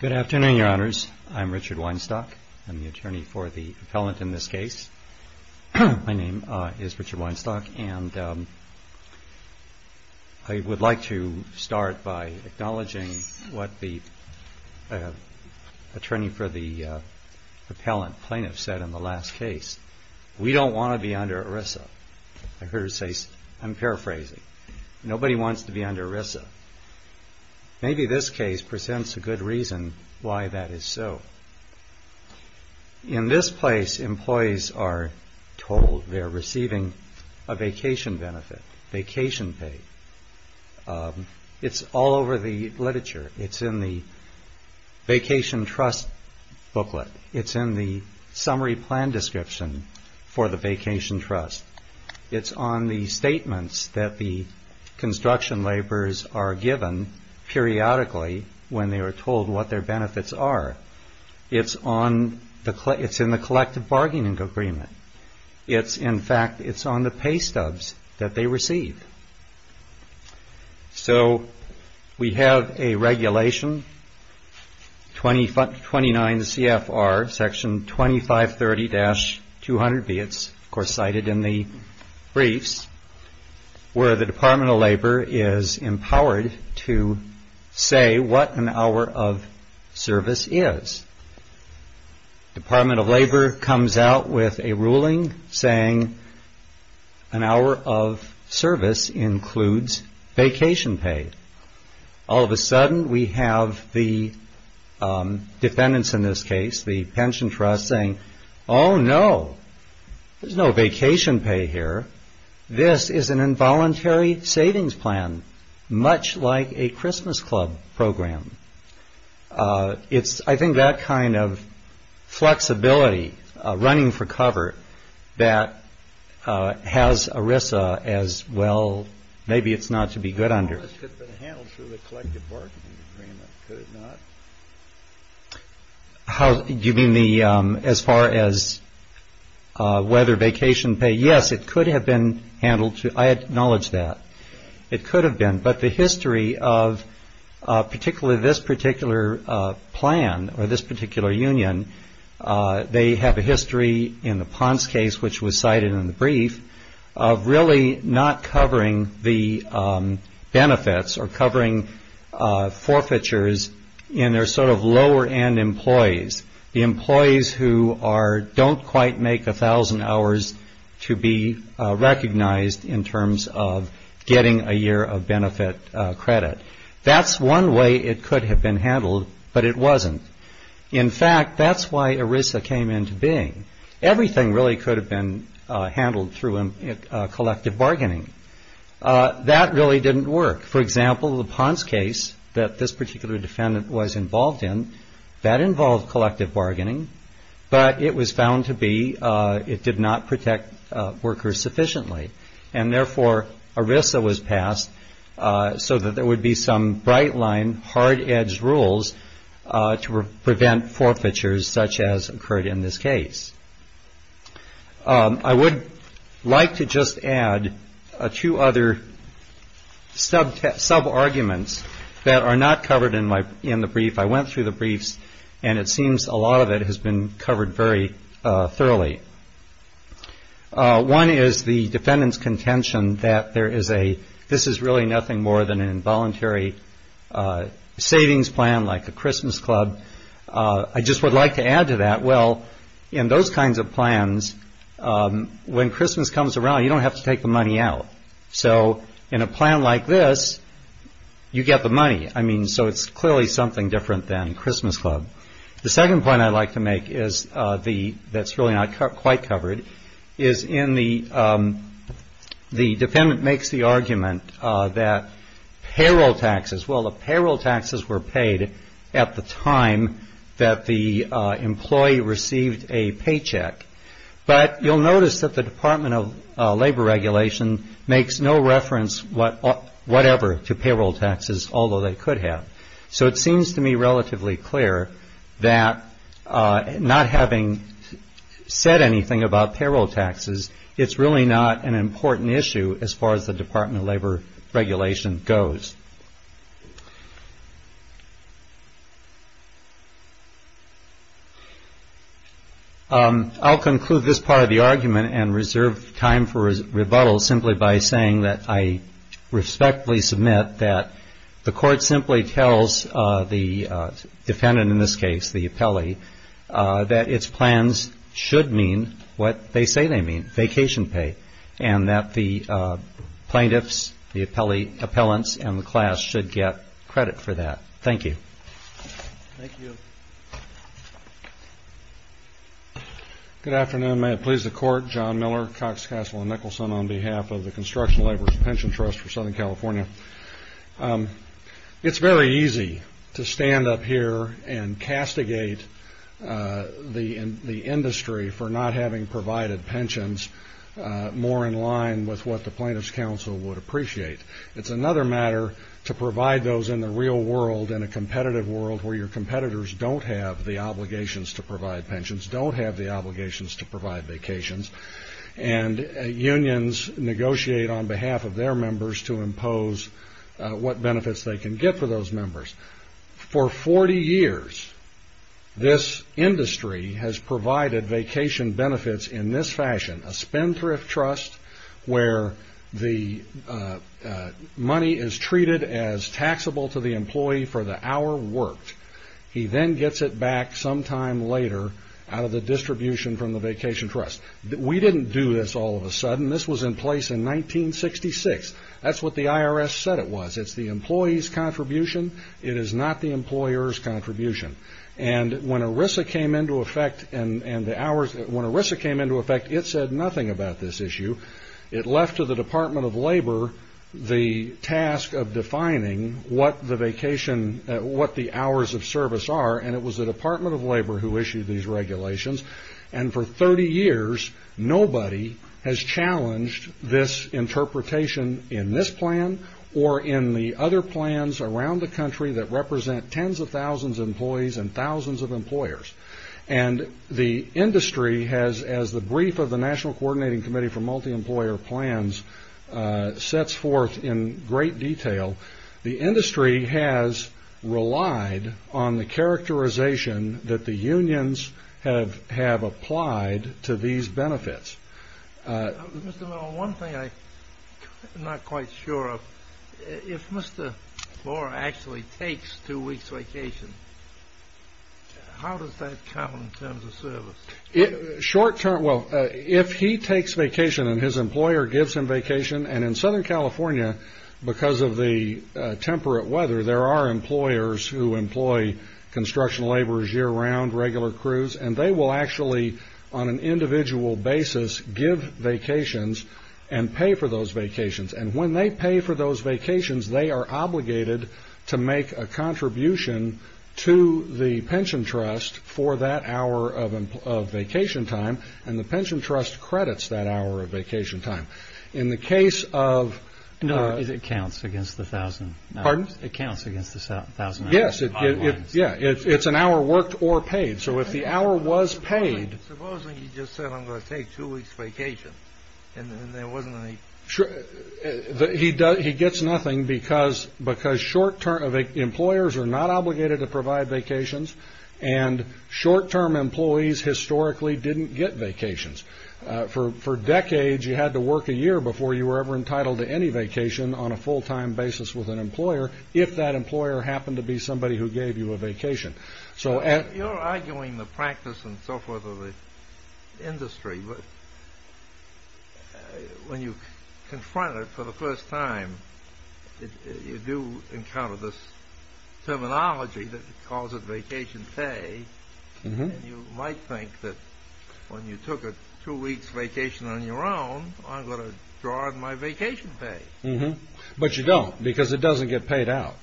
Good afternoon, Your Honors. I'm Richard Weinstock. I'm the attorney for the appellant in this case. My name is Richard Weinstock and I would like to start by acknowledging what the attorney for the appellant plaintiff said in the last case. We don't want to be under ERISA. I heard her say, I'm paraphrasing, nobody wants to be under ERISA. Maybe this case presents a good reason why that is so. In this place, employees are told they're receiving a vacation benefit, vacation pay. It's all over the literature. It's in the vacation trust booklet. It's in the summary plan description for the vacation trust. It's on the statements that the construction laborers are given periodically when they are told what their benefits are. It's in the collective bargaining agreement. In fact, it's on the pay stubs that they receive. So we have a briefs where the Department of Labor is empowered to say what an hour of service is. Department of Labor comes out with a ruling saying an hour of service includes vacation pay. All of a sudden, we have the defendants in this case, the This is an involuntary savings plan, much like a Christmas club program. It's I think that kind of flexibility, running for cover, that has ERISA as, well, maybe it's not to be good under. It could have been handled through the collective bargaining agreement, could it not? You mean as far as whether vacation pay? Yes, it could have been handled. I acknowledge that. It could have been, but the history of particularly this particular plan or this particular union, they have a history in the Ponce case, which was cited in the brief, of really not covering the benefits or covering forfeitures in their sort of lower end employees. The employees who don't quite make a thousand hours to be recognized in terms of getting a year of benefit credit. That's one way it could have been handled, but it wasn't. In fact, that's why ERISA came into being. Everything really could have been handled through collective bargaining. That really didn't work. For example, the Ponce case that this particular defendant was involved in, that involved collective bargaining, but it was found to be, it did not protect workers sufficiently. And therefore, ERISA was passed so that there would be some bright line, hard edge rules to prevent forfeitures such as occurred in this case. I would like to just add two other sub-arguments that are not covered in the brief. I went through the briefs, and it seems a lot of it has been covered very thoroughly. One is the defendant's contention that there is a, this is really nothing more than an involuntary savings plan like a Christmas club. I just would like to add to that, well, in those kinds of plans, when Christmas comes around, you don't have to take the money out. So in a plan like this, you get the money. I mean, so it's clearly something different than Christmas club. The second point I'd like to make is the, that's really not quite covered, is in the, the defendant makes the argument that payroll taxes, well, the payroll taxes were paid at the time that the employee received a paycheck. But you'll notice that the Department of Labor Regulation makes no reference whatever to payroll taxes, although they could have. So it seems to me relatively clear that not having said anything about payroll taxes, it's really not an important issue as far as the Department of Labor Regulation goes. I'll conclude this part of the argument and reserve time for rebuttal simply by saying that I respectfully submit that the court simply tells the defendant, in this case, the appellee, that its plans should mean what they say they mean, vacation pay, and that the plaintiffs, the appellee, appellants, and the class should get credit for that. Thank you. Good afternoon. May it please the court, John Miller, Cox Castle and Nicholson on behalf of the Construction Laborers Pension Trust for Southern California. It's very easy to stand up here and castigate the industry for not having provided pensions more in line with what the Plaintiffs' Council would appreciate. It's another matter to provide those in the real world, in a competitive world where your competitors don't have the obligations to provide pensions, don't have the obligations to provide vacations, and unions negotiate on behalf of their members to impose what benefits they can get for those in this fashion, a spendthrift trust where the money is treated as taxable to the employee for the hour worked. He then gets it back sometime later out of the distribution from the vacation trust. We didn't do this all of a sudden. This was in place in 1966. That's what the IRS said it was. It's the employee's contribution. It is not the employer's contribution. And when ERISA came into effect, it said nothing about this issue. It left to the Department of Labor the task of defining what the vacation, what the hours of service are, and it was the Department of Labor who issued these regulations. And for 30 years, nobody has challenged this interpretation in this plan or in the other plans around the country that represent tens of thousands of employees and thousands of employers. And the industry has, as the brief of the National Coordinating Committee for Multi-Employer Plans sets forth in great detail, the industry has relied on the characterization that the unions have applied to these benefits. Mr. Miller, one thing I'm not quite sure of, if Mr. Moore actually takes two weeks vacation, how does that count in terms of service? Well, if he takes vacation and his employer gives him vacation, and in Southern California, because of the temperate weather, there are employers who employ construction laborers year-round, regular crews, and they will actually, on an individual basis, give vacations and pay for those vacations. And when they pay for those vacations, they are obligated to make a contribution to the pension trust for that hour of vacation time, and the pension trust credits that hour of vacation time. In the case of... No, it counts against the thousand hours. Pardon? It counts against the thousand hours. Yes, it's an hour worked or paid, so if the hour was paid... Supposing he just said, I'm going to take two weeks vacation, and there wasn't any... He gets nothing because employers are not obligated to provide vacations, and short-term employees historically didn't get vacations. For decades, you had to work a year before you were ever entitled to any vacation on a full-time basis with an employer, if that employer happened to be somebody who gave you a vacation. You're arguing the practice and so forth of the industry, but when you confront it for the first time, you do encounter this terminology that calls it vacation pay, and you might think that when you took a two-weeks vacation on your own, I'm going to draw in my vacation pay. But you don't, because it doesn't get paid out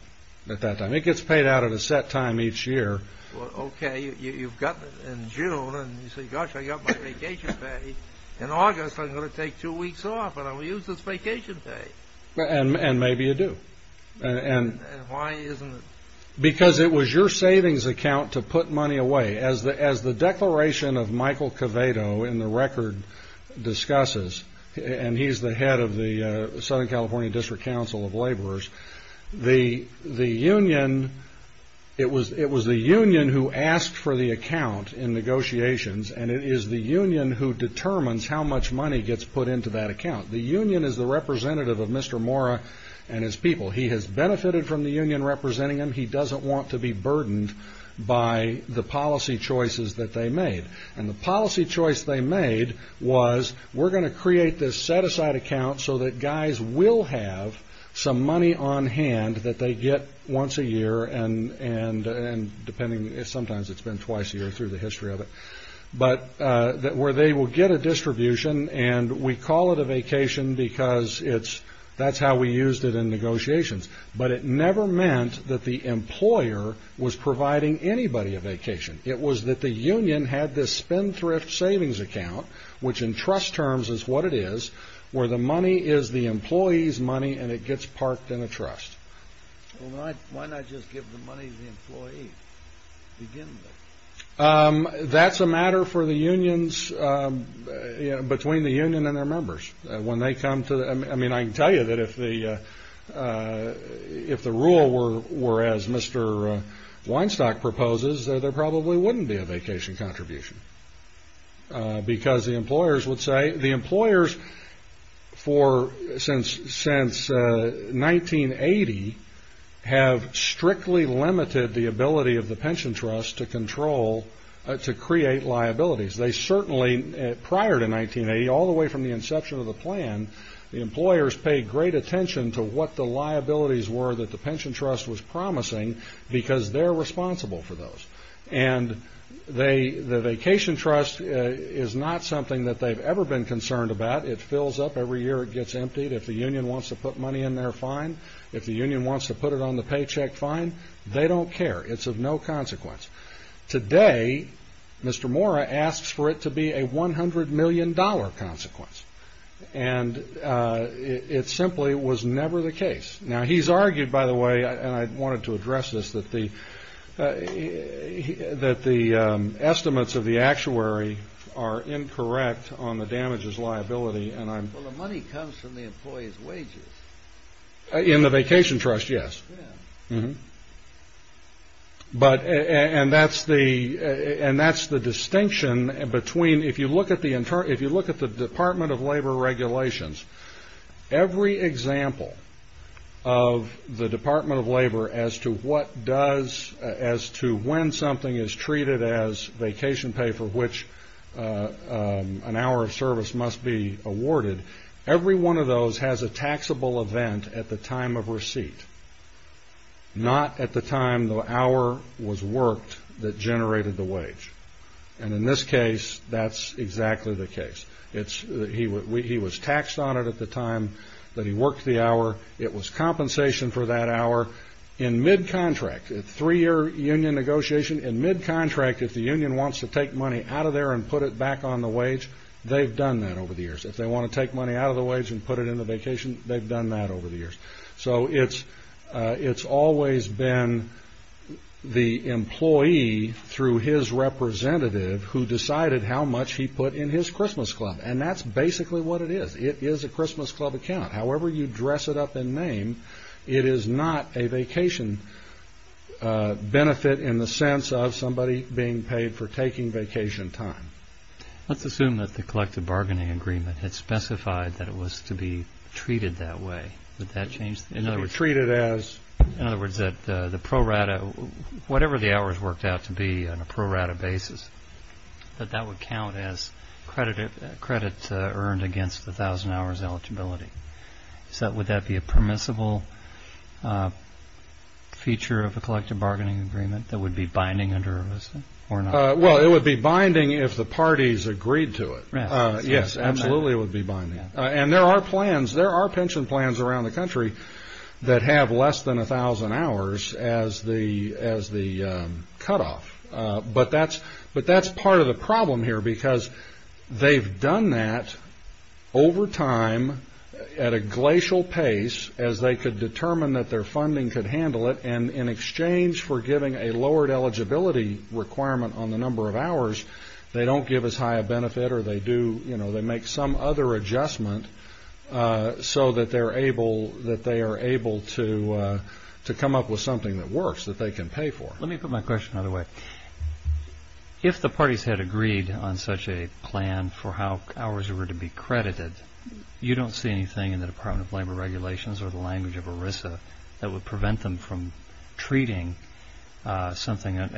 at that time. It gets paid out at a set time each year. Okay, you've got it in June, and you say, gosh, I've got my vacation pay. In August, I'm going to take two weeks off, and I'm going to use this vacation pay. And maybe you do. And why isn't it? Because it was your savings account to put money away. As the declaration of Michael Cavato in the record discusses, and he's the head of the Southern California District Council of Laborers, the union, it was the union who asked for the account in negotiations, and it is the union who determines how much money gets put into that account. The union is the representative of Mr. Mora and his people. He has benefited from the union representing him. He doesn't want to be burdened by the policy choices that they made, and the policy choice they made was we're going to create this set-aside account so that guys will have some money on hand that they get once a year, and sometimes it's been twice a year through the history of it, where they will get a distribution, and we call it a vacation because that's how we used it in negotiations. But it never meant that the employer was providing anybody a vacation. It was that the union had this spendthrift savings account, which in trust terms is what it is, where the money is the employee's money and it gets parked in a trust. Well, why not just give the money to the employee, begin with? That's a matter for the unions, between the union and their members. I mean, I can tell you that if the rule were as Mr. Weinstock proposes, there probably wouldn't be a vacation contribution because the employers would say, the employers since 1980 have strictly limited the ability of the pension trust to control, to create liabilities. They certainly, prior to 1980, all the way from the inception of the plan, the employers paid great attention to what the liabilities were that the pension trust was promising because they're responsible for those. And the vacation trust is not something that they've ever been concerned about. It fills up every year. It gets emptied. If the union wants to put money in there, fine. If the union wants to put it on the paycheck, fine. They don't care. It's of no consequence. Today, Mr. Mora asks for it to be a $100 million consequence. And it simply was never the case. Now, he's argued, by the way, and I wanted to address this, that the estimates of the actuary are incorrect on the damages liability. Well, the money comes from the employee's wages. In the vacation trust, yes. And that's the distinction between, if you look at the Department of Labor regulations, every example of the Department of Labor as to what does, as to when something is treated as vacation pay for which an hour of service must be awarded, every one of those has a taxable event at the time of receipt, not at the time the hour was worked that generated the wage. And in this case, that's exactly the case. He was taxed on it at the time that he worked the hour. It was compensation for that hour. In mid-contract, a three-year union negotiation, in mid-contract, if the union wants to take money out of there and put it back on the wage, they've done that over the years. If they want to take money out of the wage and put it in the vacation, they've done that over the years. So it's always been the employee, through his representative, who decided how much he put in his Christmas club. And that's basically what it is. It is a Christmas club account. However you dress it up in name, it is not a vacation benefit in the sense of somebody being paid for taking vacation time. Let's assume that the collective bargaining agreement had specified that it was to be treated that way. Would that change? It would be treated as? In other words, that the pro rata, whatever the hours worked out to be on a pro rata basis, that that would count as credit earned against the 1,000 hours eligibility. Would that be a permissible feature of a collective bargaining agreement that would be binding or not? Well, it would be binding if the parties agreed to it. Yes, absolutely it would be binding. And there are plans, there are pension plans around the country that have less than 1,000 hours as the cutoff. But that's part of the problem here because they've done that over time at a glacial pace as they could determine that their funding could handle it. And in exchange for giving a lowered eligibility requirement on the number of hours, they don't give as high a benefit or they do, you know, they make some other adjustment so that they are able to come up with something that works that they can pay for. Let me put my question another way. If the parties had agreed on such a plan for how hours were to be credited, you don't see anything in the Department of Labor regulations or the language of ERISA that would prevent them from treating something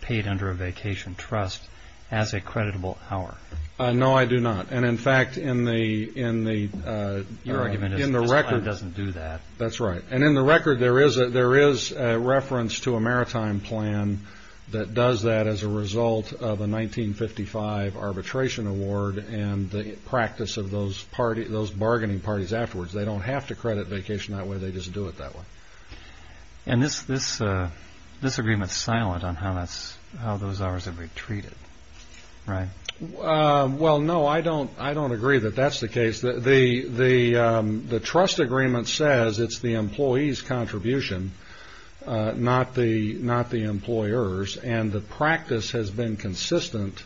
paid under a vacation trust as a creditable hour. No, I do not. And, in fact, in the record. Your argument is that this plan doesn't do that. That's right. And in the record there is a reference to a maritime plan that does that as a result of a 1955 arbitration award and the practice of those bargaining parties afterwards. They don't have to credit vacation that way. They just do it that way. And this agreement is silent on how those hours are to be treated, right? Well, no, I don't agree that that's the case. The trust agreement says it's the employee's contribution, not the employer's, and the practice has been consistent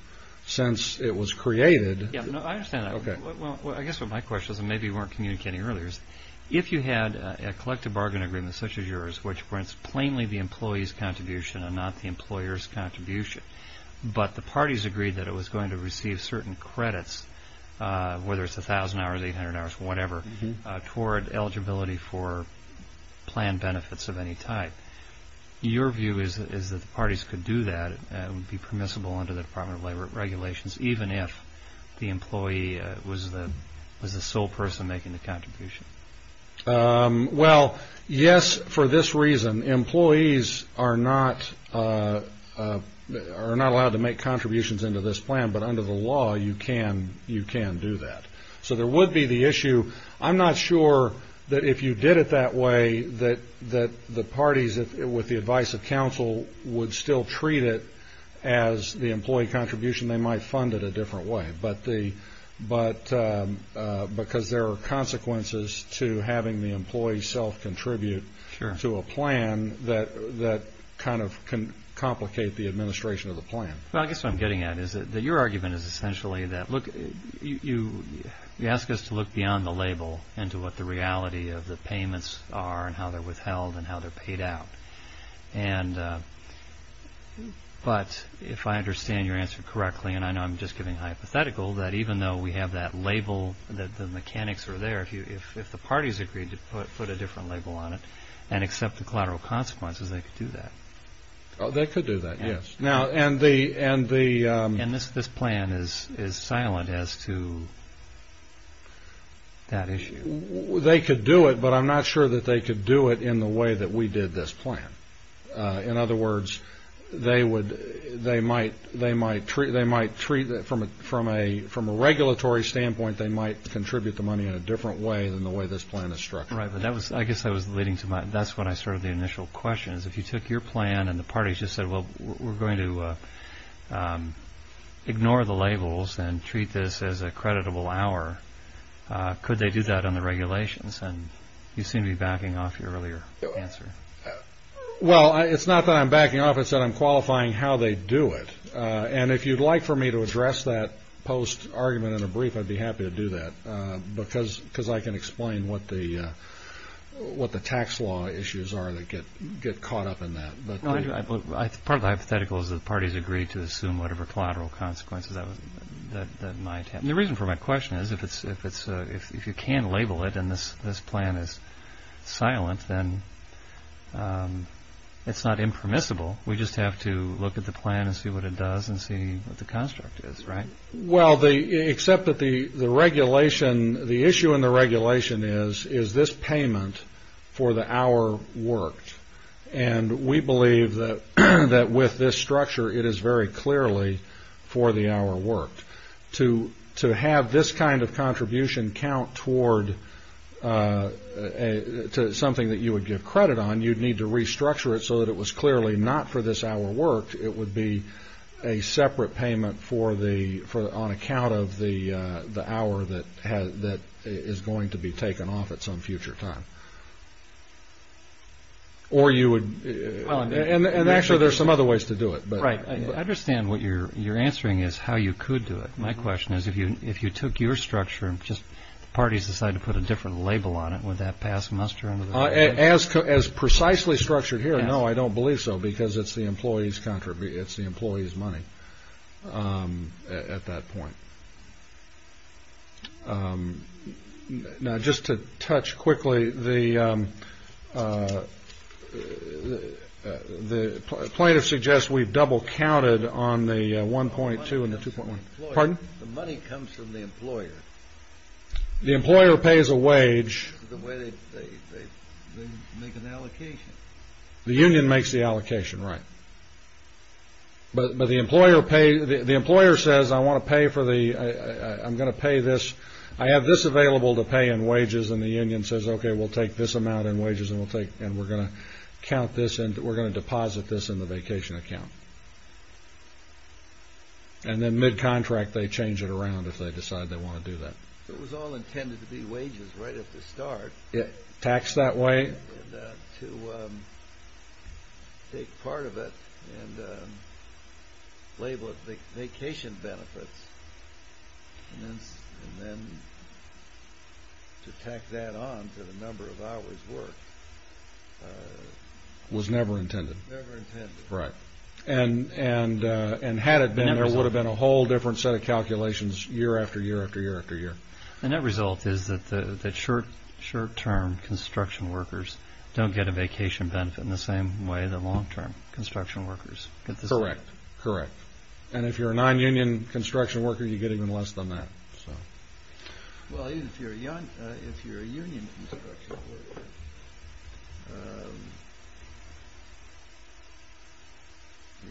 since it was created. Yeah, I understand that. Okay. Well, I guess what my question is, and maybe you weren't communicating earlier, is if you had a collective bargaining agreement such as yours, which prints plainly the employee's contribution and not the employer's contribution, but the parties agreed that it was going to receive certain credits, whether it's 1,000 hours, 800 hours, whatever, toward eligibility for plan benefits of any type, your view is that the parties could do that and it would be permissible under the Department of Labor regulations, even if the employee was the sole person making the contribution? Well, yes, for this reason. Employees are not allowed to make contributions into this plan, but under the law you can do that. So there would be the issue. I'm not sure that if you did it that way that the parties, with the advice of counsel, would still treat it as the employee contribution, they might fund it a different way, because there are consequences to having the employee self-contribute to a plan that kind of can complicate the administration of the plan. Well, I guess what I'm getting at is that your argument is essentially that, look, you ask us to look beyond the label into what the reality of the payments are and how they're withheld and how they're paid out. But if I understand your answer correctly, and I know I'm just giving a hypothetical, that even though we have that label that the mechanics are there, if the parties agreed to put a different label on it and accept the collateral consequences, they could do that. They could do that, yes. And this plan is silent as to that issue. They could do it, but I'm not sure that they could do it in the way that we did this plan. In other words, they might treat it from a regulatory standpoint, they might contribute the money in a different way than the way this plan is structured. Right, but I guess that's what I started the initial question is, if you took your plan and the parties just said, well, we're going to ignore the labels and treat this as a creditable hour, could they do that on the regulations? And you seem to be backing off your earlier answer. Well, it's not that I'm backing off. It's that I'm qualifying how they do it. And if you'd like for me to address that post-argument in a brief, I'd be happy to do that, because I can explain what the tax law issues are that get caught up in that. Part of the hypothetical is that the parties agreed to assume whatever collateral consequences that might have. The reason for my question is, if you can't label it and this plan is silent, then it's not impermissible. We just have to look at the plan and see what it does and see what the construct is, right? Well, except that the issue in the regulation is, is this payment for the hour worked? And we believe that with this structure, it is very clearly for the hour worked. To have this kind of contribution count toward something that you would give credit on, you'd need to restructure it so that it was clearly not for this hour worked. It would be a separate payment on account of the hour that is going to be taken off at some future time. And actually, there's some other ways to do it. Right. I understand what you're answering is how you could do it. My question is, if you took your structure and just the parties decided to put a different label on it with that past semester? As precisely structured here? No, I don't believe so, because it's the employees' money at that point. Now, just to touch quickly, the plaintiff suggests we've double counted on the 1.2 and the 2.1. The money comes from the employer. The employer pays a wage. The way they make an allocation. The union makes the allocation, right. But the employer says, I want to pay for the, I'm going to pay this. I have this available to pay in wages. And the union says, okay, we'll take this amount in wages, and we're going to count this, and we're going to deposit this in the vacation account. And then mid-contract, they change it around if they decide they want to do that. It was all intended to be wages right at the start. It taxed that way. To take part of it and label it vacation benefits, and then to tack that on to the number of hours worked. Was never intended. Never intended. Right. And had it been, there would have been a whole different set of calculations year after year after year after year. The net result is that short-term construction workers don't get a vacation benefit in the same way that long-term construction workers. Correct. Correct. And if you're a non-union construction worker, you get even less than that. Well, if you're a union construction worker,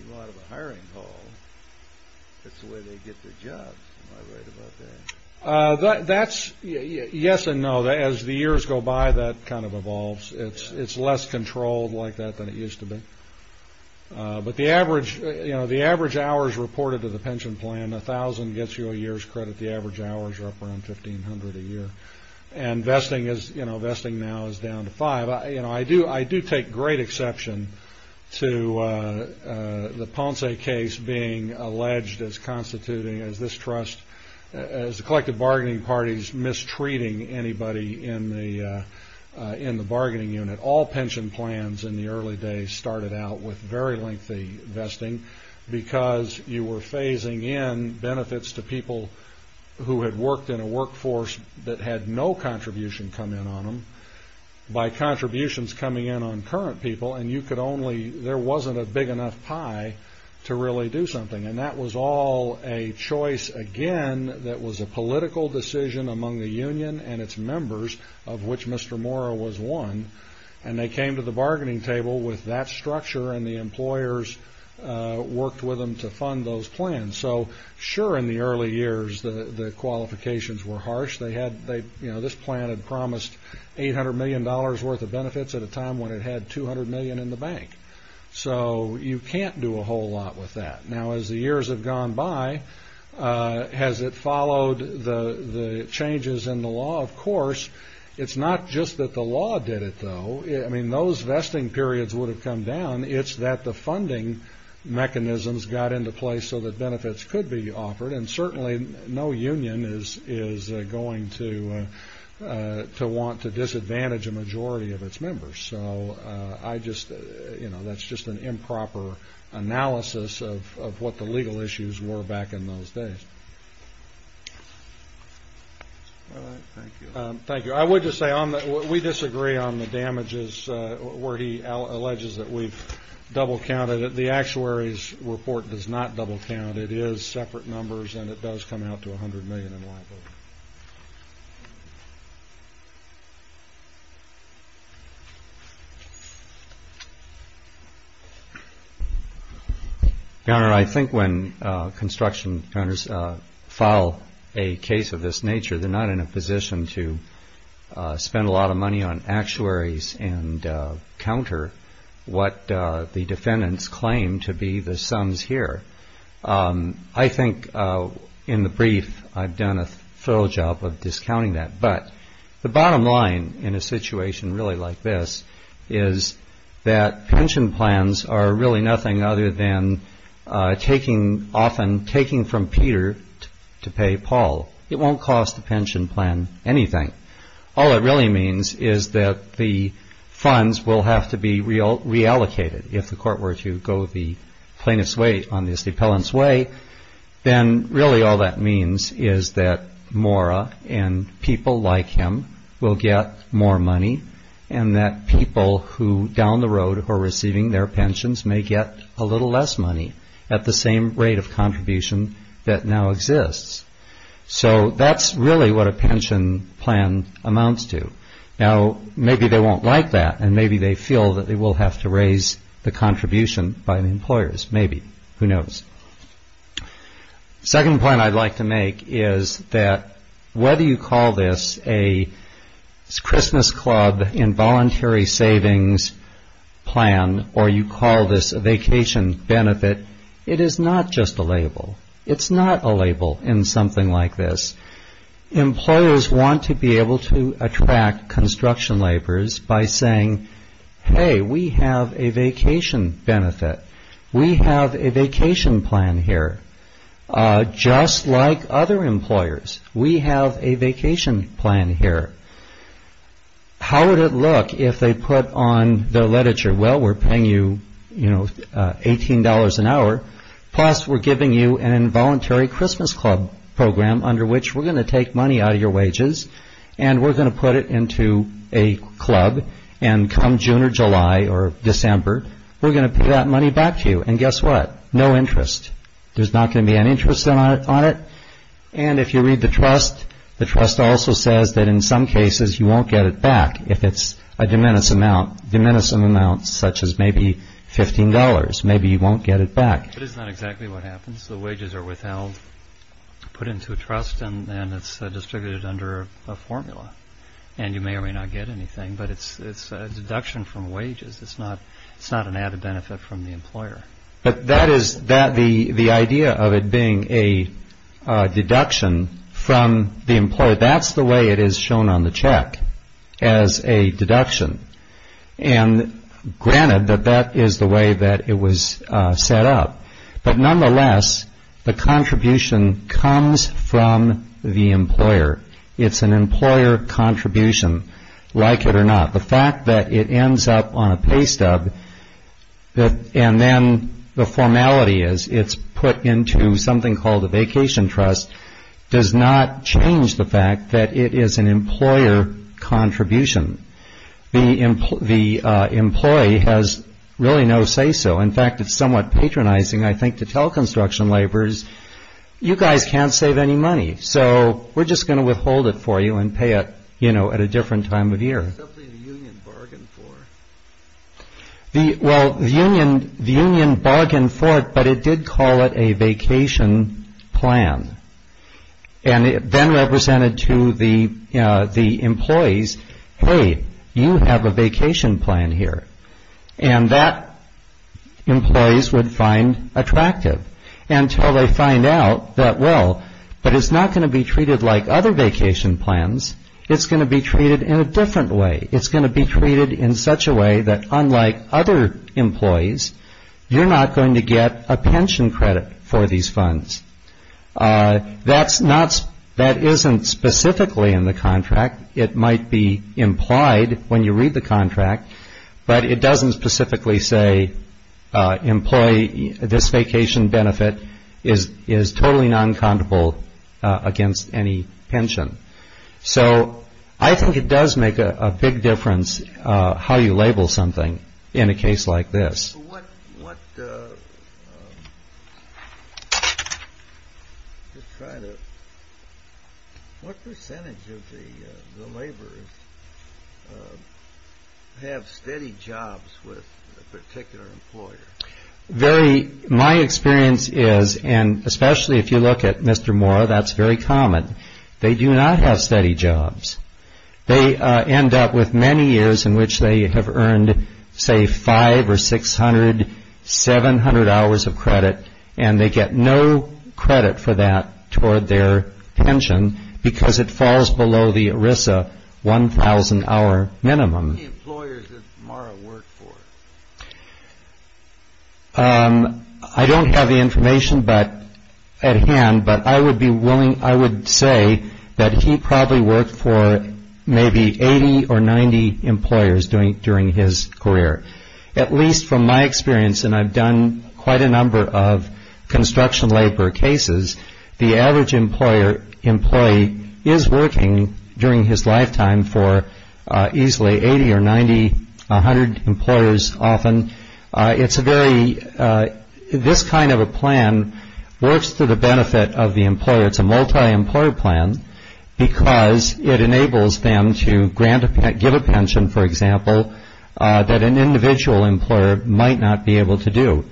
you go out of a hiring hall. That's the way they get their jobs. Am I right about that? That's yes and no. As the years go by, that kind of evolves. It's less controlled like that than it used to be. But the average hours reported to the pension plan, 1,000 gets you a year's credit. The average hours are up around 1,500 a year. And vesting now is down to five. You know, I do take great exception to the Ponce case being alleged as constituting, as this trust, as the collective bargaining parties mistreating anybody in the bargaining unit. All pension plans in the early days started out with very lengthy vesting because you were phasing in benefits to people who had worked in a workforce that had no contribution come in on them. By contributions coming in on current people, and you could only, there wasn't a big enough pie to really do something. And that was all a choice, again, that was a political decision among the union and its members, of which Mr. Mora was one. And they came to the bargaining table with that structure, and the employers worked with them to fund those plans. So, sure, in the early years, the qualifications were harsh. They had, you know, this plan had promised $800 million worth of benefits at a time when it had $200 million in the bank. So you can't do a whole lot with that. Now, as the years have gone by, has it followed the changes in the law? Of course. It's not just that the law did it, though. I mean, those vesting periods would have come down. It's that the funding mechanisms got into place so that benefits could be offered. And certainly no union is going to want to disadvantage a majority of its members. So I just, you know, that's just an improper analysis of what the legal issues were back in those days. All right. Thank you. Thank you. I would just say we disagree on the damages where he alleges that we've double counted it. The actuaries report does not double count. It is separate numbers, and it does come out to $100 million in liability. Your Honor, I think when construction counters file a case of this nature, they're not in a position to spend a lot of money on actuaries and counter what the defendants claim to be the sums here. I think in the brief I've done a thorough job of discounting that. But the bottom line in a situation really like this is that pension plans are really nothing other than taking, often taking from Peter to pay Paul. It won't cost the pension plan anything. All it really means is that the funds will have to be reallocated. If the court were to go the plaintiff's way on this, the appellant's way, then really all that means is that Maura and people like him will get more money, and that people who down the road who are receiving their pensions may get a little less money at the same rate of contribution that now exists. So that's really what a pension plan amounts to. Now, maybe they won't like that, and maybe they feel that they will have to raise the contribution by the employers. Maybe. Who knows? The second point I'd like to make is that whether you call this a Christmas Club involuntary savings plan or you call this a vacation benefit, it is not just a label. It's not a label in something like this. Employers want to be able to attract construction laborers by saying, hey, we have a vacation benefit. We have a vacation plan here. Just like other employers, we have a vacation plan here. How would it look if they put on the literature, well, we're paying you, you know, $18 an hour, plus we're giving you an involuntary Christmas Club program under which we're going to take money out of your wages and we're going to put it into a club, and come June or July or December, we're going to pay that money back to you. And guess what? No interest. There's not going to be any interest on it. And if you read the trust, the trust also says that in some cases you won't get it back if it's a diminishing amount, such as maybe $15, maybe you won't get it back. But it's not exactly what happens. The wages are withheld, put into a trust, and it's distributed under a formula. And you may or may not get anything, but it's a deduction from wages. It's not an added benefit from the employer. But that is the idea of it being a deduction from the employer. That's the way it is shown on the check as a deduction. And granted that that is the way that it was set up. But nonetheless, the contribution comes from the employer. It's an employer contribution, like it or not. The fact that it ends up on a pay stub, and then the formality is it's put into something called a vacation trust, does not change the fact that it is an employer contribution. The employee has really no say so. In fact, it's somewhat patronizing, I think, to tell construction laborers, you guys can't save any money, so we're just going to withhold it for you and pay it at a different time of year. It's something the union bargained for. Well, the union bargained for it, but it did call it a vacation plan. And it then represented to the employees, hey, you have a vacation plan here. And that employees would find attractive until they find out that, well, but it's not going to be treated like other vacation plans. It's going to be treated in a different way. It's going to be treated in such a way that unlike other employees, you're not going to get a pension credit for these funds. That isn't specifically in the contract. It might be implied when you read the contract, but it doesn't specifically say employee, this vacation benefit is totally non-comitable against any pension. So I think it does make a big difference how you label something in a case like this. What percentage of the laborers have steady jobs with a particular employer? My experience is, and especially if you look at Mr. Mora, that's very common. They do not have steady jobs. They end up with many years in which they have earned, say, 500 or 600, 700 hours of credit, and they get no credit for that toward their pension because it falls below the ERISA 1,000-hour minimum. How many employers does Mora work for? I don't have the information at hand, but I would say that he probably worked for maybe 80 or 90 employers during his career. At least from my experience, and I've done quite a number of construction labor cases, the average employee is working during his lifetime for easily 80 or 90, 100 employers often. This kind of a plan works to the benefit of the employer. It's a multi-employer plan because it enables them to give a pension, for example, that an individual employer might not be able to do.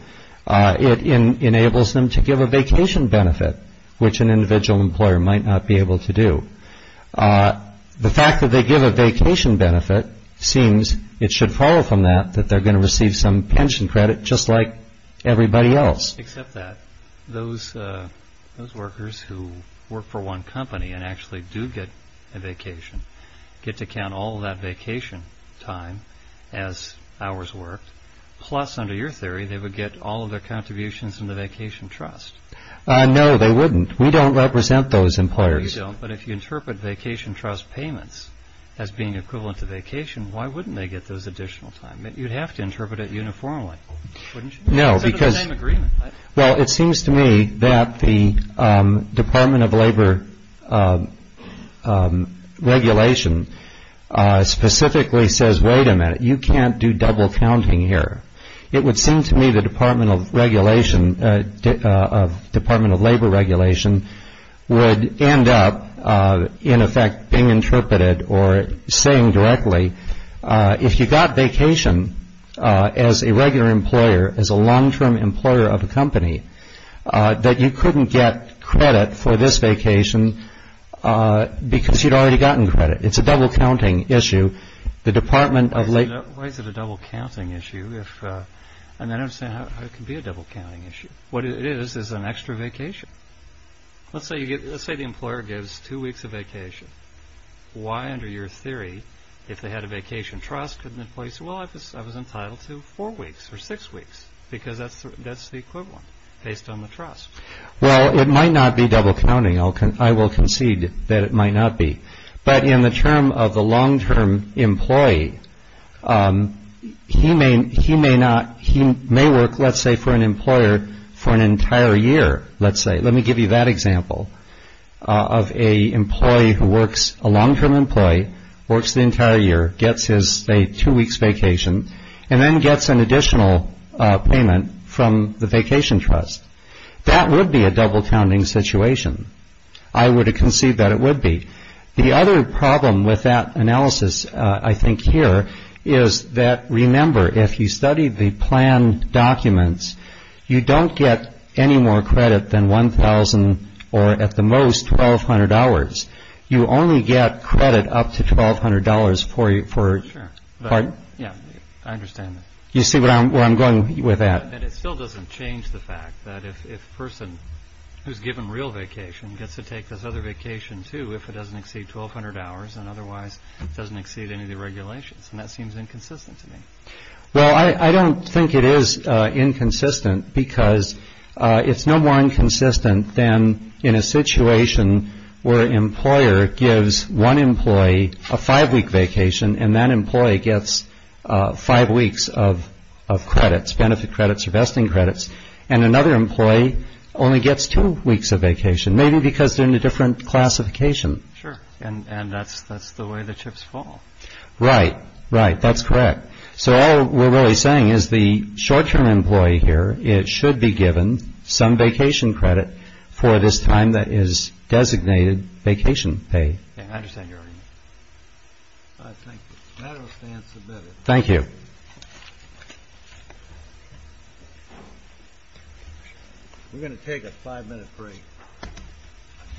It enables them to give a vacation benefit, which an individual employer might not be able to do. The fact that they give a vacation benefit seems it should follow from that that they're going to receive some pension credit just like everybody else. Except that those workers who work for one company and actually do get a vacation get to count all that vacation time as hours worked. Plus, under your theory, they would get all of their contributions from the vacation trust. No, they wouldn't. We don't represent those employers. But if you interpret vacation trust payments as being equivalent to vacation, why wouldn't they get those additional time? You'd have to interpret it uniformly, wouldn't you? No, because it seems to me that the Department of Labor regulation specifically says, wait a minute, you can't do double counting here. It would seem to me the Department of Labor regulation would end up, in effect, being interpreted or saying directly, if you got vacation as a regular employer, as a long-term employer of a company, that you couldn't get credit for this vacation because you'd already gotten credit. It's a double counting issue. Why is it a double counting issue? I don't understand how it can be a double counting issue. What it is is an extra vacation. Let's say the employer gives two weeks of vacation. Why, under your theory, if they had a vacation trust, couldn't the employee say, well, I was entitled to four weeks or six weeks? Because that's the equivalent based on the trust. Well, it might not be double counting. I will concede that it might not be. But in the term of the long-term employee, he may work, let's say, for an employer for an entire year, let's say. Let me give you that example of an employee who works, a long-term employee, works the entire year, gets his two weeks vacation, and then gets an additional payment from the vacation trust. That would be a double counting situation. I would concede that it would be. The other problem with that analysis, I think, here is that, remember, if you studied the plan documents, you don't get any more credit than $1,000 or, at the most, $1,200. You only get credit up to $1,200 for... Sure. Pardon? Yeah, I understand that. You see where I'm going with that? And it still doesn't change the fact that if a person who's given real vacation gets to take this other vacation, too, if it doesn't exceed 1,200 hours and otherwise doesn't exceed any of the regulations. And that seems inconsistent to me. Well, I don't think it is inconsistent because it's no more inconsistent than in a situation where an employer gives one employee a five-week vacation, and that employee gets five weeks of credits, benefit credits or vesting credits, and another employee only gets two weeks of vacation, maybe because they're in a different classification. Sure, and that's the way the chips fall. Right, right. That's correct. So all we're really saying is the short-term employee here, it should be given some vacation credit for this time that is designated vacation pay. Yeah, I understand your argument. I think the matter stands submitted. Thank you. We're going to take a five-minute break.